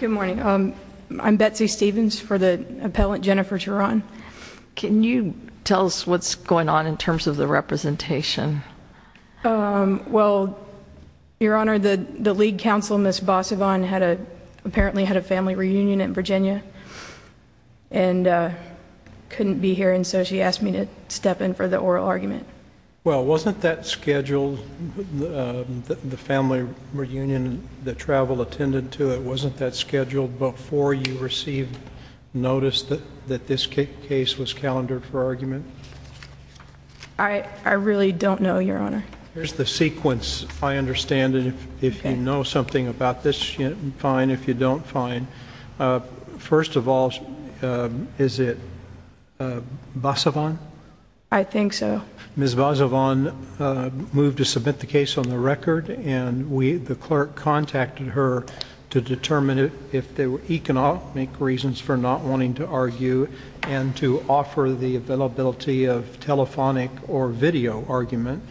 Good morning. I'm Betsy Stevens for the appellant Jennifer Teran. Can you tell us what's going on in terms of the representation? Well, Your Honor, the lead counsel, Ms. Bossovan, apparently had a family reunion in Virginia and couldn't be here, and so she asked me to step in for the oral argument. Well, wasn't that scheduled, the family reunion that travel attended to, wasn't that scheduled before you received notice that this case was calendared for argument? I really don't know, Your Honor. Here's the sequence. I understand if you know something about this, fine. If you don't, fine. First of all, is it Bossovan? I think so. Ms. Bossovan moved to submit the case on the record, and the clerk contacted her to determine if there were economic reasons for not wanting to argue and to offer the availability of telephonic or video argument.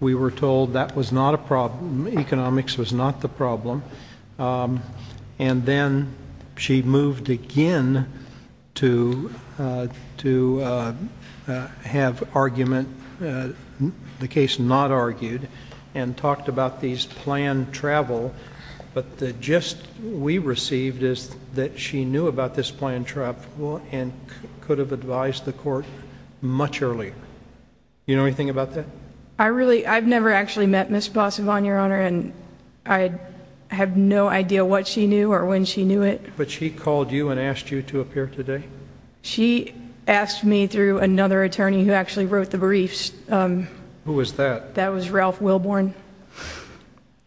We were told that was not a problem, economics was not the problem, and then she moved again to have argument, the case not argued, and talked about these planned travel, but the gist we received is that she knew about this planned travel and could have advised the court much earlier. Do you know anything about that? I've never actually met Ms. Bossovan, Your Honor, and I have no idea what she knew or when she knew it. But she called you and asked you to appear today? She asked me through another attorney who actually wrote the briefs. Who was that? That was Ralph Wilborn,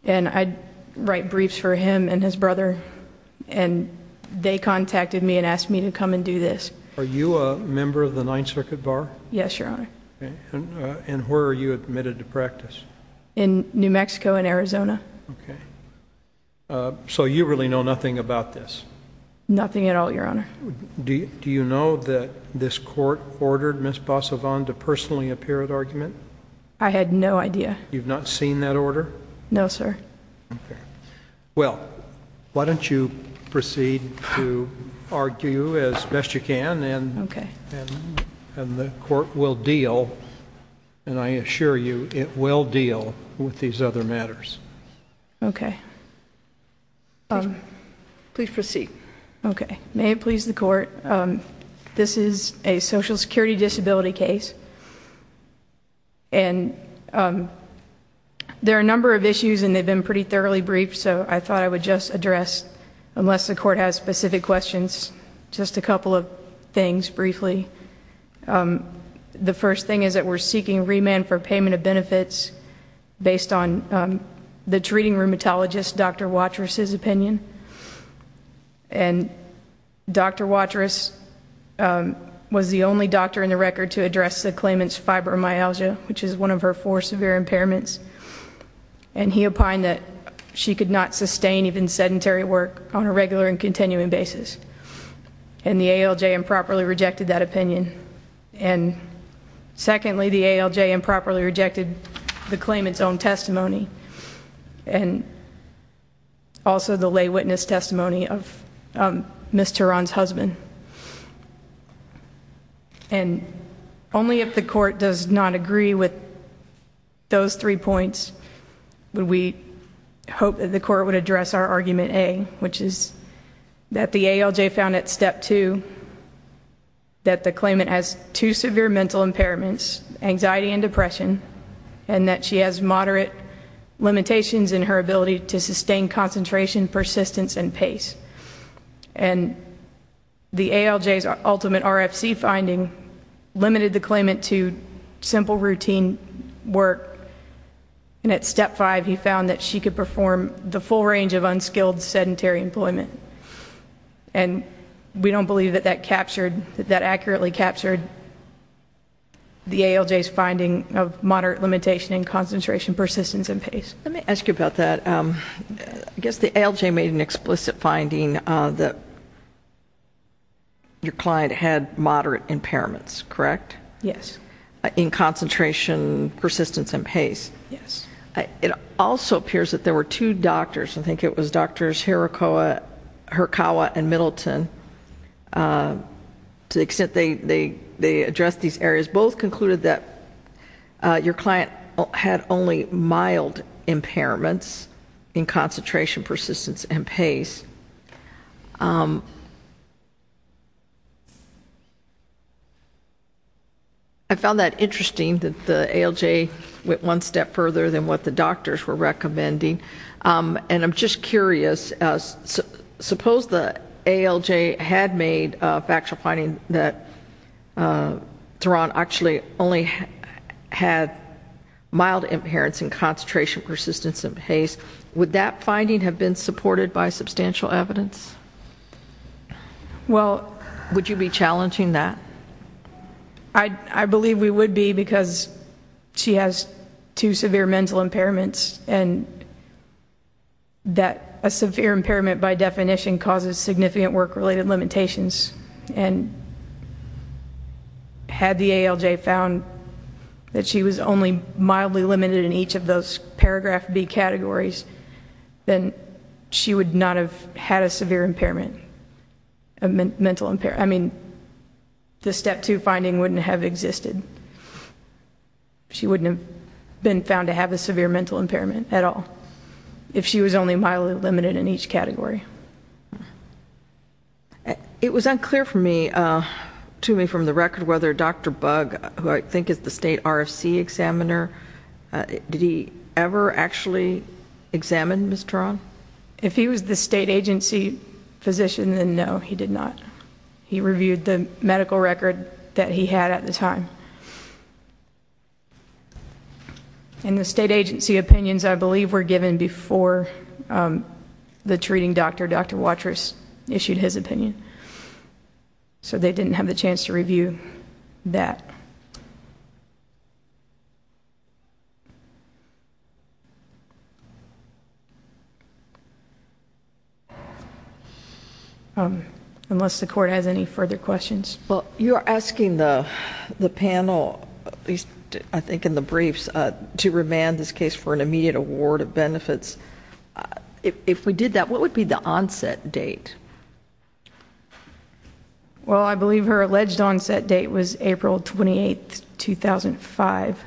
and I'd write briefs for him and his brother, and they contacted me and asked me to come and do this. Are you a member of the Ninth Circuit Bar? Yes, Your Honor. And where are you admitted to practice? In New Mexico and Arizona. Okay. So you really know nothing about this? Nothing at all, Your Honor. Do you know that this court ordered Ms. Bossovan to personally appear at argument? I had no idea. You've not seen that order? No, sir. Okay. Well, why don't you proceed to argue as best you can, and the court will deal, and I assure you, it will deal with these other matters. Okay. Please proceed. Okay. May it please the court, this is a social security disability case, and there are a number of issues and they've been pretty thoroughly briefed, so I thought I would just address, unless the court has specific questions, just a couple of things briefly. The first thing is that we're seeking remand for payment of benefits based on the treating rheumatologist, Dr. Watrous' opinion, and Dr. Watrous was the only doctor in the record to address the claimant's fibromyalgia, which is one of her four severe impairments, and he opined that she could not sustain even sedentary work on a regular and continuing basis, and the ALJ improperly rejected that opinion. And secondly, the ALJ improperly rejected the claimant's own testimony and also the lay witness testimony of Ms. Turan's husband. And only if the court does not agree with those three points would we hope that the court would address our argument A, which is that the ALJ found at step two that the claimant has two severe mental impairments, anxiety and depression, and that she has moderate limitations in her ability to sustain concentration, persistence, and pace. And the ALJ's ultimate RFC finding limited the claimant to simple routine work, and at step five he found that she could perform the full range of unskilled sedentary employment. And we don't believe that that accurately captured the ALJ's finding of moderate limitation in concentration, persistence, and pace. Let me ask you about that. I guess the ALJ made an explicit finding that your client had moderate impairments, correct? Yes. In concentration, persistence, and pace. Yes. It also appears that there were two doctors. I think it was Drs. Hirakawa and Middleton, to the extent they addressed these areas. Both concluded that your client had only mild impairments in concentration, persistence, and pace. I found that interesting that the ALJ went one step further than what the doctors were recommending. And I'm just curious. Suppose the ALJ had made a factual finding that Theron actually only had mild impairments in concentration, persistence, and pace. Would that finding have been supported by substantial evidence? Well, would you be challenging that? I believe we would be because she has two severe mental impairments and that a severe impairment, by definition, causes significant work-related limitations. And had the ALJ found that she was only mildly limited in each of those Paragraph B categories, then she would not have had a severe mental impairment. I mean, the Step 2 finding wouldn't have existed. She wouldn't have been found to have a severe mental impairment at all if she was only mildly limited in each category. It was unclear to me from the record whether Dr. Bug, who I think is the state RFC examiner, did he ever actually examine Ms. Theron? If he was the state agency physician, then no, he did not. He reviewed the medical record that he had at the time. And the state agency opinions, I believe, were given before the treating doctor, Dr. Watrous, issued his opinion. So they didn't have the chance to review that. Thank you. Unless the court has any further questions. Well, you are asking the panel, at least I think in the briefs, to remand this case for an immediate award of benefits. If we did that, what would be the onset date? Well, I believe her alleged onset date was April 28, 2005.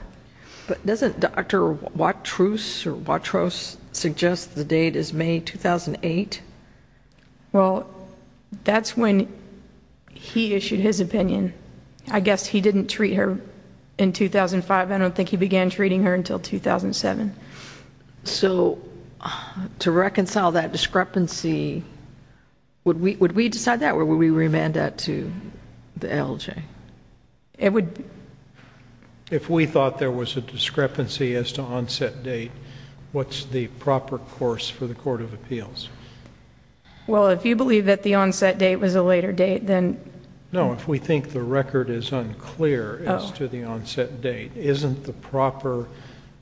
But doesn't Dr. Watrous suggest the date is May 2008? Well, that's when he issued his opinion. I guess he didn't treat her in 2005. I don't think he began treating her until 2007. So to reconcile that discrepancy, would we decide that? Or would we remand that to the LJ? If we thought there was a discrepancy as to onset date, what's the proper course for the Court of Appeals? Well, if you believe that the onset date was a later date, then... No, if we think the record is unclear as to the onset date, isn't the proper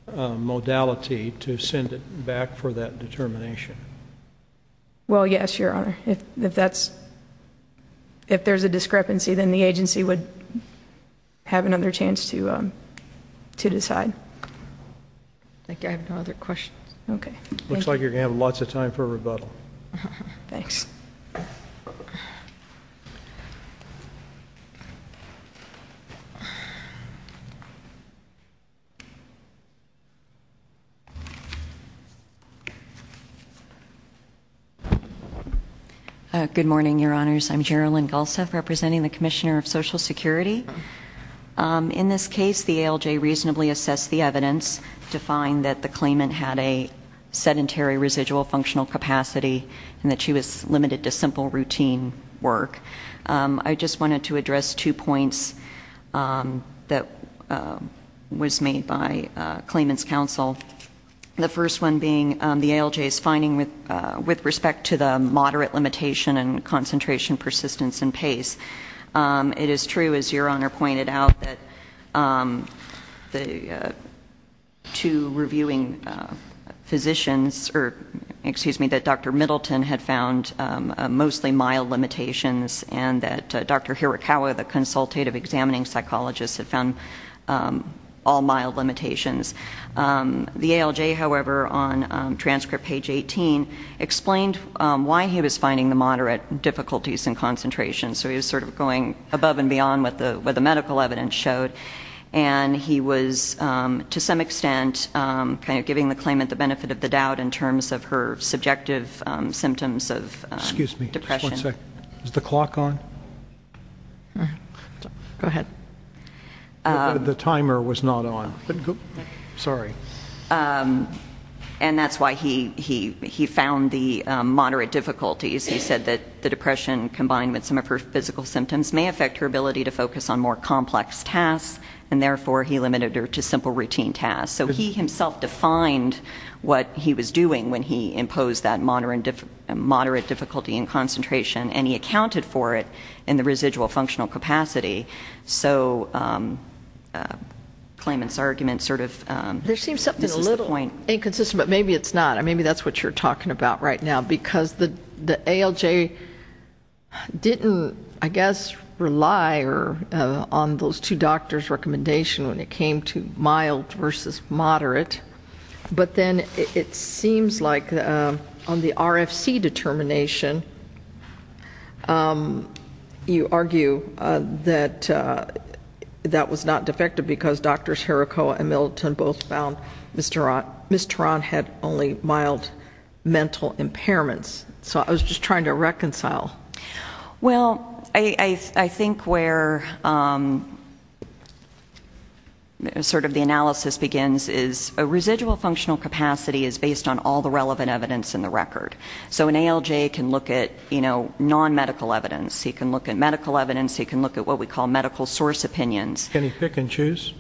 modality to send it back for that determination? Well, yes, Your Honor. If there's a discrepancy, then the agency would have another chance to decide. I think I have no other questions. Looks like you're going to have lots of time for rebuttal. Thanks. Thank you. Good morning, Your Honors. I'm Gerilyn Gulseth, representing the Commissioner of Social Security. In this case, the ALJ reasonably assessed the evidence to find that the claimant had a sedentary residual functional capacity and that she was limited to simple routine work. I just wanted to address two points that was made by claimant's counsel, the first one being the ALJ's finding with respect to the moderate limitation and concentration, persistence, and pace. It is true, as Your Honor pointed out, that two reviewing physicians... and that Dr. Hirakawa, the consultative examining psychologist, had found all mild limitations. The ALJ, however, on transcript page 18, explained why he was finding the moderate difficulties in concentration. So he was sort of going above and beyond what the medical evidence showed. And he was, to some extent, kind of giving the claimant the benefit of the doubt in terms of her subjective symptoms of depression. Excuse me. Just one second. Is the clock on? Go ahead. The timer was not on. Sorry. And that's why he found the moderate difficulties. He said that the depression, combined with some of her physical symptoms, may affect her ability to focus on more complex tasks. And therefore, he limited her to simple routine tasks. So he himself defined what he was doing when he imposed that moderate difficulty in concentration, and he accounted for it in the residual functional capacity. So the claimant's argument sort of... There seems to be a little inconsistent, but maybe it's not. Maybe that's what you're talking about right now, because the ALJ didn't, I guess, rely on those two doctors' recommendation when it came to mild versus moderate. But then it seems like on the RFC determination, you argue that that was not defective because Drs. Herakoa and Milton both found Ms. Turan had only mild mental impairments. Well, I think where sort of the analysis begins is a residual functional capacity is based on all the relevant evidence in the record. So an ALJ can look at non-medical evidence. He can look at medical evidence. He can look at what we call medical source opinions. Can he pick and choose?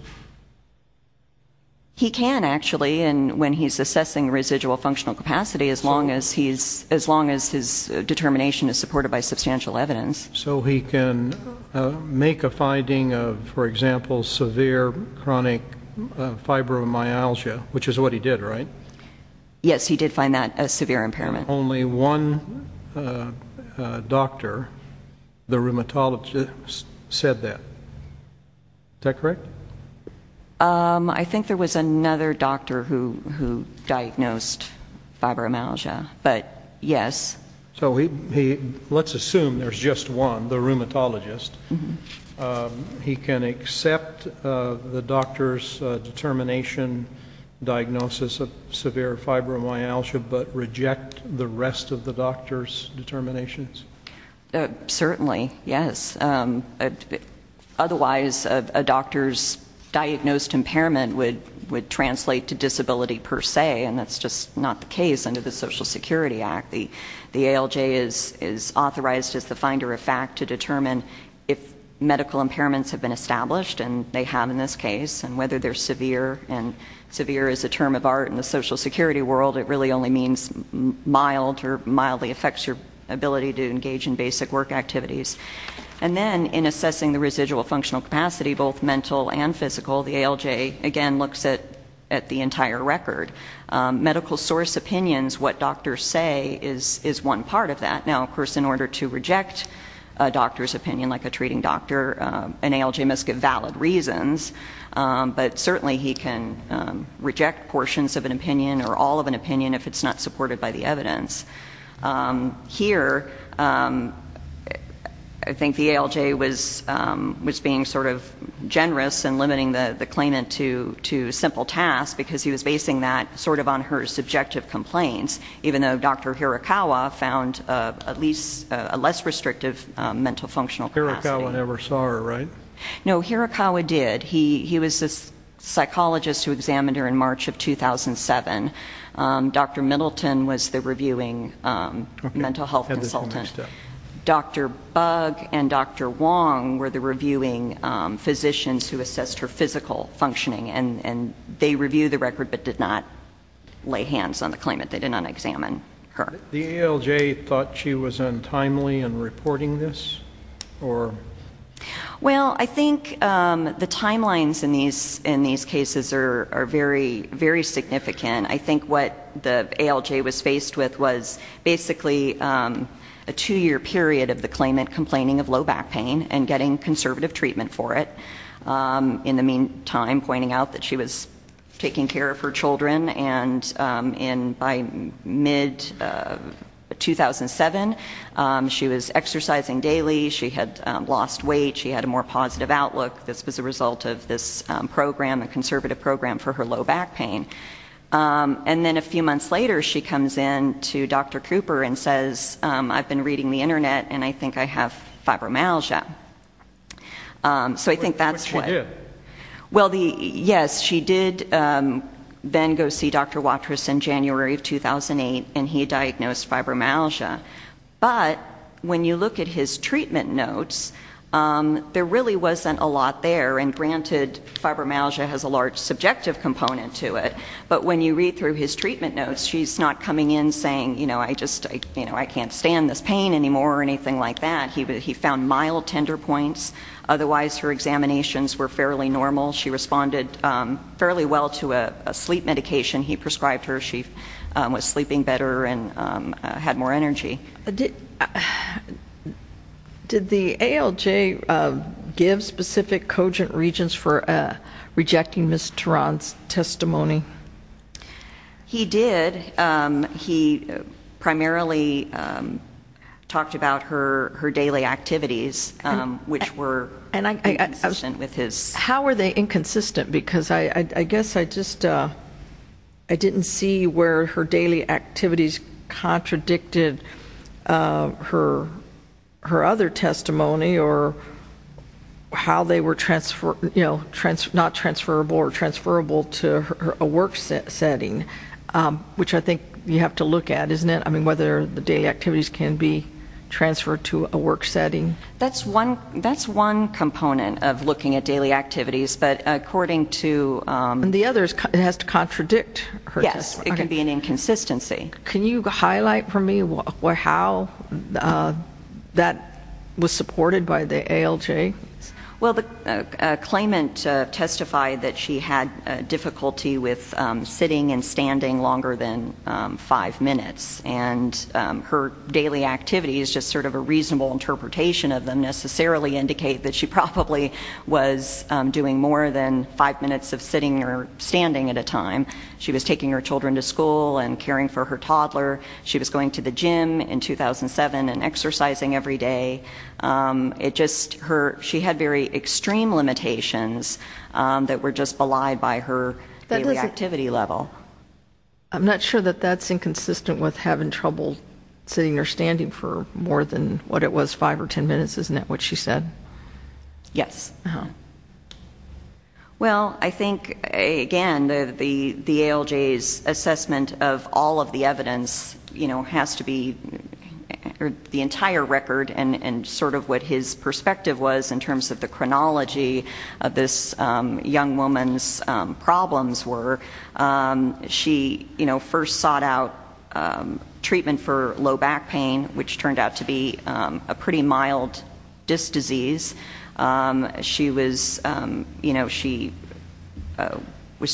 He can, actually, when he's assessing residual functional capacity, as long as his determination is supported by substantial evidence. So he can make a finding of, for example, severe chronic fibromyalgia, which is what he did, right? Yes, he did find that a severe impairment. Only one doctor, the rheumatologist, said that. Is that correct? I think there was another doctor who diagnosed fibromyalgia, but yes. So let's assume there's just one, the rheumatologist. He can accept the doctor's determination diagnosis of severe fibromyalgia but reject the rest of the doctor's determinations? Certainly, yes. Otherwise, a doctor's diagnosed impairment would translate to disability per se, and that's just not the case under the Social Security Act. The ALJ is authorized as the finder of fact to determine if medical impairments have been established, and they have in this case, and whether they're severe. And severe is a term of art in the Social Security world. It really only means mild or mildly affects your ability to engage in basic work activities. And then in assessing the residual functional capacity, both mental and physical, the ALJ, again, looks at the entire record. Medical source opinions, what doctors say, is one part of that. Now, of course, in order to reject a doctor's opinion, like a treating doctor, an ALJ must give valid reasons, but certainly he can reject portions of an opinion or all of an opinion if it's not supported by the evidence. Here, I think the ALJ was being sort of generous in limiting the claimant to simple tasks because he was basing that sort of on her subjective complaints, even though Dr. Hirakawa found at least a less restrictive mental functional capacity. Hirakawa never saw her, right? No, Hirakawa did. He was a psychologist who examined her in March of 2007. Dr. Middleton was the reviewing mental health consultant. Dr. Bug and Dr. Wong were the reviewing physicians who assessed her physical functioning, and they reviewed the record but did not lay hands on the claimant. They did not examine her. The ALJ thought she was untimely in reporting this? Well, I think the timelines in these cases are very, very significant. I think what the ALJ was faced with was basically a two-year period of the claimant complaining of low back pain and getting conservative treatment for it, in the meantime pointing out that she was taking care of her children, and by mid-2007 she was exercising daily. She had lost weight. She had a more positive outlook. This was a result of this program, a conservative program for her low back pain. And then a few months later she comes in to Dr. Cooper and says, I've been reading the Internet and I think I have fibromyalgia. So I think that's what... What she did? Well, yes, she did then go see Dr. Watrous in January of 2008, and he diagnosed fibromyalgia. But when you look at his treatment notes, there really wasn't a lot there. And granted, fibromyalgia has a large subjective component to it, but when you read through his treatment notes, she's not coming in saying, you know, I can't stand this pain anymore or anything like that. He found mild tender points. Otherwise her examinations were fairly normal. She responded fairly well to a sleep medication he prescribed her. She was sleeping better and had more energy. Did the ALJ give specific cogent regions for rejecting Ms. Teran's testimony? He did. He primarily talked about her daily activities, which were inconsistent with his. How were they inconsistent? Because I guess I just didn't see where her daily activities contradicted her other testimony or how they were not transferable or transferable to a work setting, which I think you have to look at, isn't it? I mean, whether the daily activities can be transferred to a work setting. That's one component of looking at daily activities, but according to... And the other is it has to contradict her testimony. Yes, it can be an inconsistency. Can you highlight for me how that was supported by the ALJ? Well, the claimant testified that she had difficulty with sitting and standing longer than five minutes, and her daily activities, just sort of a reasonable interpretation of them, necessarily indicate that she probably was doing more than five minutes of sitting or standing at a time. She was taking her children to school and caring for her toddler. She was going to the gym in 2007 and exercising every day. She had very extreme limitations that were just belied by her daily activity level. I'm not sure that that's inconsistent with having trouble sitting or standing for more than what it was five or ten minutes. Isn't that what she said? Yes. Well, I think, again, the ALJ's assessment of all of the evidence has to be the entire record and sort of what his perspective was in terms of the chronology of this young woman's problems were. She first sought out treatment for low back pain, which turned out to be a pretty mild disc disease. She was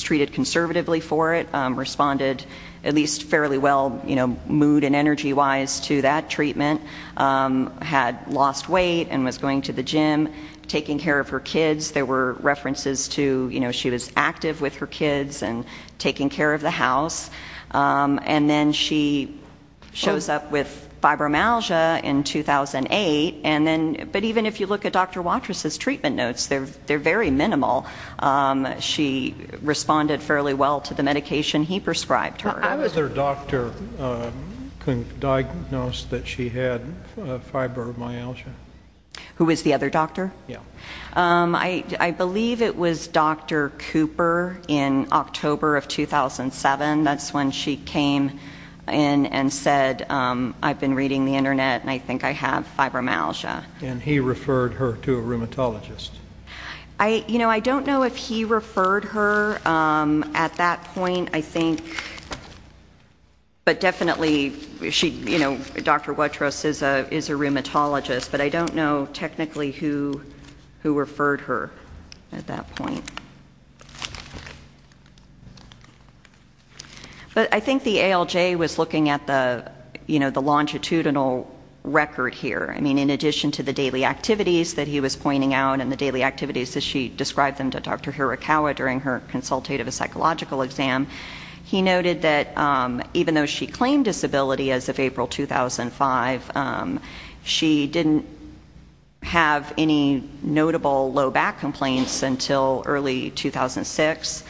treated conservatively for it, responded at least fairly well mood and energy-wise to that treatment, had lost weight and was going to the gym, taking care of her kids. There were references to she was active with her kids and taking care of the house. And then she shows up with fibromyalgia in 2008. But even if you look at Dr. Watrous' treatment notes, they're very minimal. She responded fairly well to the medication he prescribed her. How was her doctor diagnosed that she had fibromyalgia? Who was the other doctor? Yes. I believe it was Dr. Cooper in October of 2007. That's when she came in and said, I've been reading the Internet and I think I have fibromyalgia. And he referred her to a rheumatologist. I don't know if he referred her at that point, I think. But definitely, Dr. Watrous is a rheumatologist. But I don't know technically who referred her at that point. But I think the ALJ was looking at the longitudinal record here. I mean, in addition to the daily activities that he was pointing out and the daily activities that she described them to Dr. Hirakawa during her consultative psychological exam, he noted that even though she claimed disability as of April 2005, she didn't have any notable low back complaints until early 2006.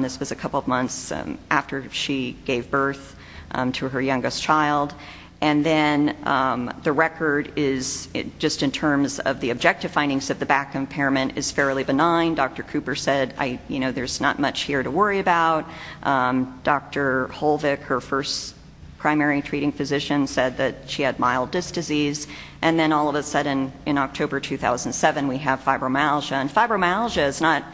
This was a couple of months after she gave birth to her youngest child. And then the record is, just in terms of the objective findings, that the back impairment is fairly benign. Dr. Cooper said, you know, there's not much here to worry about. Dr. Holvick, her first primary treating physician, said that she had mild disc disease. And then all of a sudden, in October 2007, we have fibromyalgia. And fibromyalgia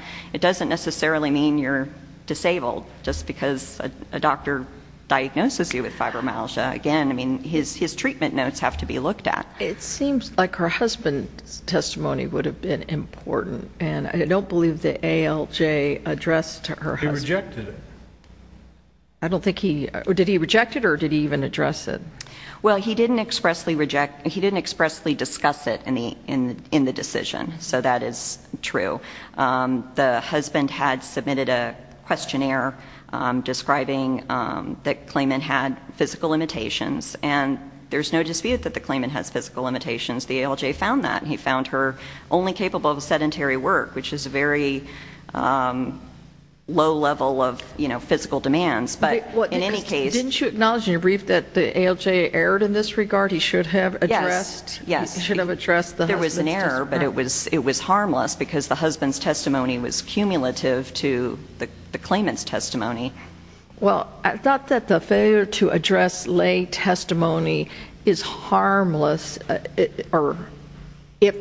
doesn't necessarily mean you're disabled, just because a doctor diagnoses you with fibromyalgia. Again, his treatment notes have to be looked at. It seems like her husband's testimony would have been important. And I don't believe that ALJ addressed her husband. He rejected it. I don't think he – did he reject it, or did he even address it? Well, he didn't expressly discuss it in the decision, so that is true. The husband had submitted a questionnaire describing that Clayman had physical limitations, and there's no dispute that the Clayman has physical limitations. The ALJ found that, and he found her only capable of sedentary work, which is a very low level of, you know, physical demands. But in any case – Didn't you acknowledge in your brief that the ALJ erred in this regard? He should have addressed the husband's testimony. There was an error, but it was harmless because the husband's testimony was cumulative to the Clayman's testimony. Well, I thought that the failure to address lay testimony is harmless if a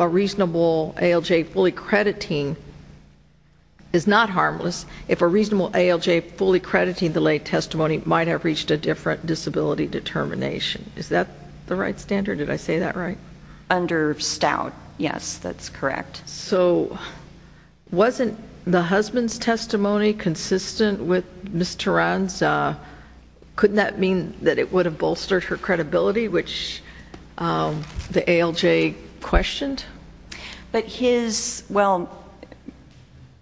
reasonable ALJ fully crediting the lay testimony might have reached a different disability determination. Is that the right standard? Did I say that right? Under Stout, yes, that's correct. So wasn't the husband's testimony consistent with Ms. Teran's? Couldn't that mean that it would have bolstered her credibility, which the ALJ questioned? But his – well,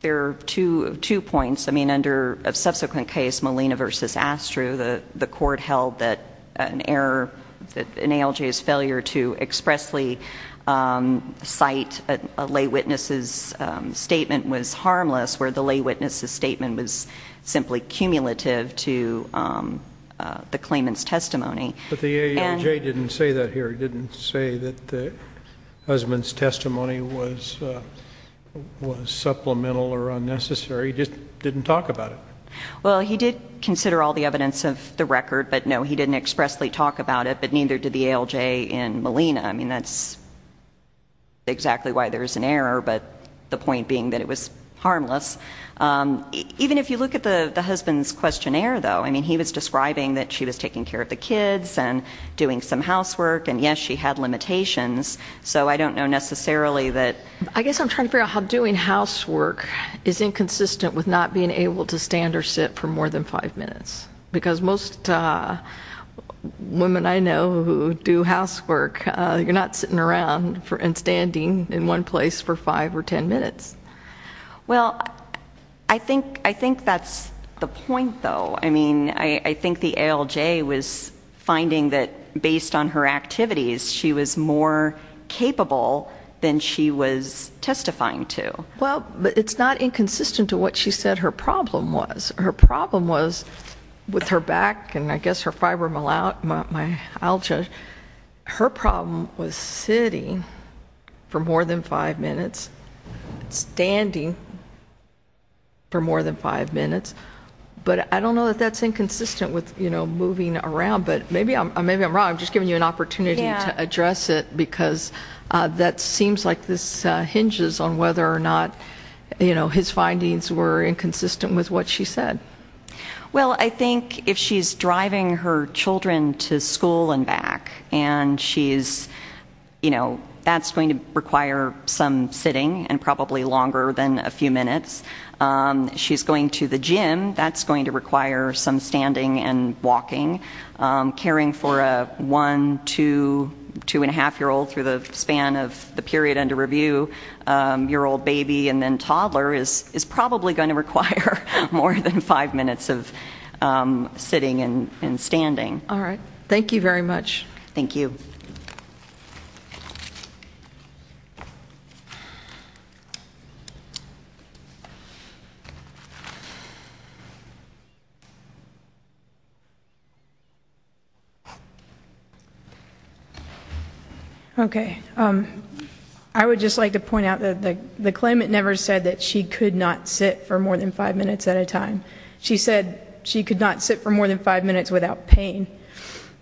there are two points. I mean, under a subsequent case, Molina v. Astru, the court held that an error, an ALJ's failure to expressly cite a lay witness's statement was harmless, where the lay witness's statement was simply cumulative to the Clayman's testimony. But the ALJ didn't say that here. It didn't say that the husband's testimony was supplemental or unnecessary. It just didn't talk about it. Well, he did consider all the evidence of the record, but no, he didn't expressly talk about it, but neither did the ALJ in Molina. I mean, that's exactly why there's an error, but the point being that it was harmless. Even if you look at the husband's questionnaire, though, I mean, he was describing that she was taking care of the kids and doing some housework, and yes, she had limitations, so I don't know necessarily that – I guess I'm trying to figure out how doing housework is inconsistent with not being able to stand or sit for more than five minutes, because most women I know who do housework, you're not sitting around and standing in one place for five or ten minutes. Well, I think that's the point, though. I mean, I think the ALJ was finding that based on her activities, she was more capable than she was testifying to. Well, but it's not inconsistent to what she said her problem was. Her problem was with her back and I guess her fibromyalgia. Her problem was sitting for more than five minutes, standing for more than five minutes, but I don't know that that's inconsistent with moving around, but maybe I'm wrong. I'm just giving you an opportunity to address it because that seems like this hinges on whether or not his findings were inconsistent with what she said. Well, I think if she's driving her children to school and back, and that's going to require some sitting and probably longer than a few minutes, she's going to the gym, that's going to require some standing and walking. Caring for a one, two, two-and-a-half-year-old through the span of the period under review, your old baby and then toddler is probably going to require more than five minutes of sitting and standing. All right. Thank you very much. Thank you. Thank you. Okay. I would just like to point out that the claimant never said that she could not sit for more than five minutes at a time. She said she could not sit for more than five minutes without pain.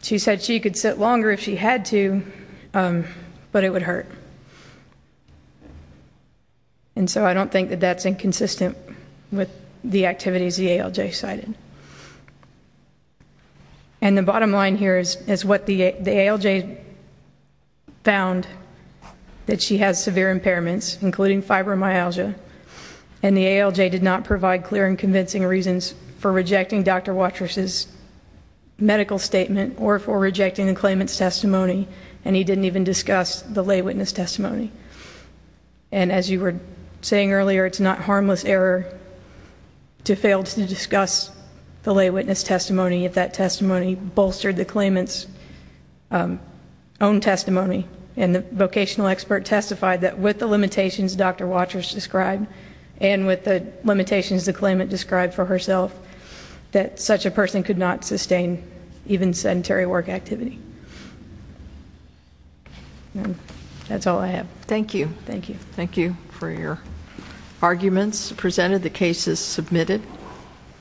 She said she could sit longer if she had to, but it would hurt. And so I don't think that that's inconsistent with the activities the ALJ cited. And the bottom line here is what the ALJ found, that she has severe impairments, including fibromyalgia, and the ALJ did not provide clear and convincing reasons for rejecting Dr. Watrous' medical statement or for rejecting the claimant's testimony, and he didn't even discuss the lay witness testimony. And as you were saying earlier, it's not harmless error to fail to discuss the lay witness testimony if that testimony bolstered the claimant's own testimony. And the vocational expert testified that with the limitations Dr. Watrous described and with the limitations the claimant described for herself, that such a person could not sustain even sedentary work activity. That's all I have. Thank you. Thank you. Thank you for your arguments presented. The case is submitted.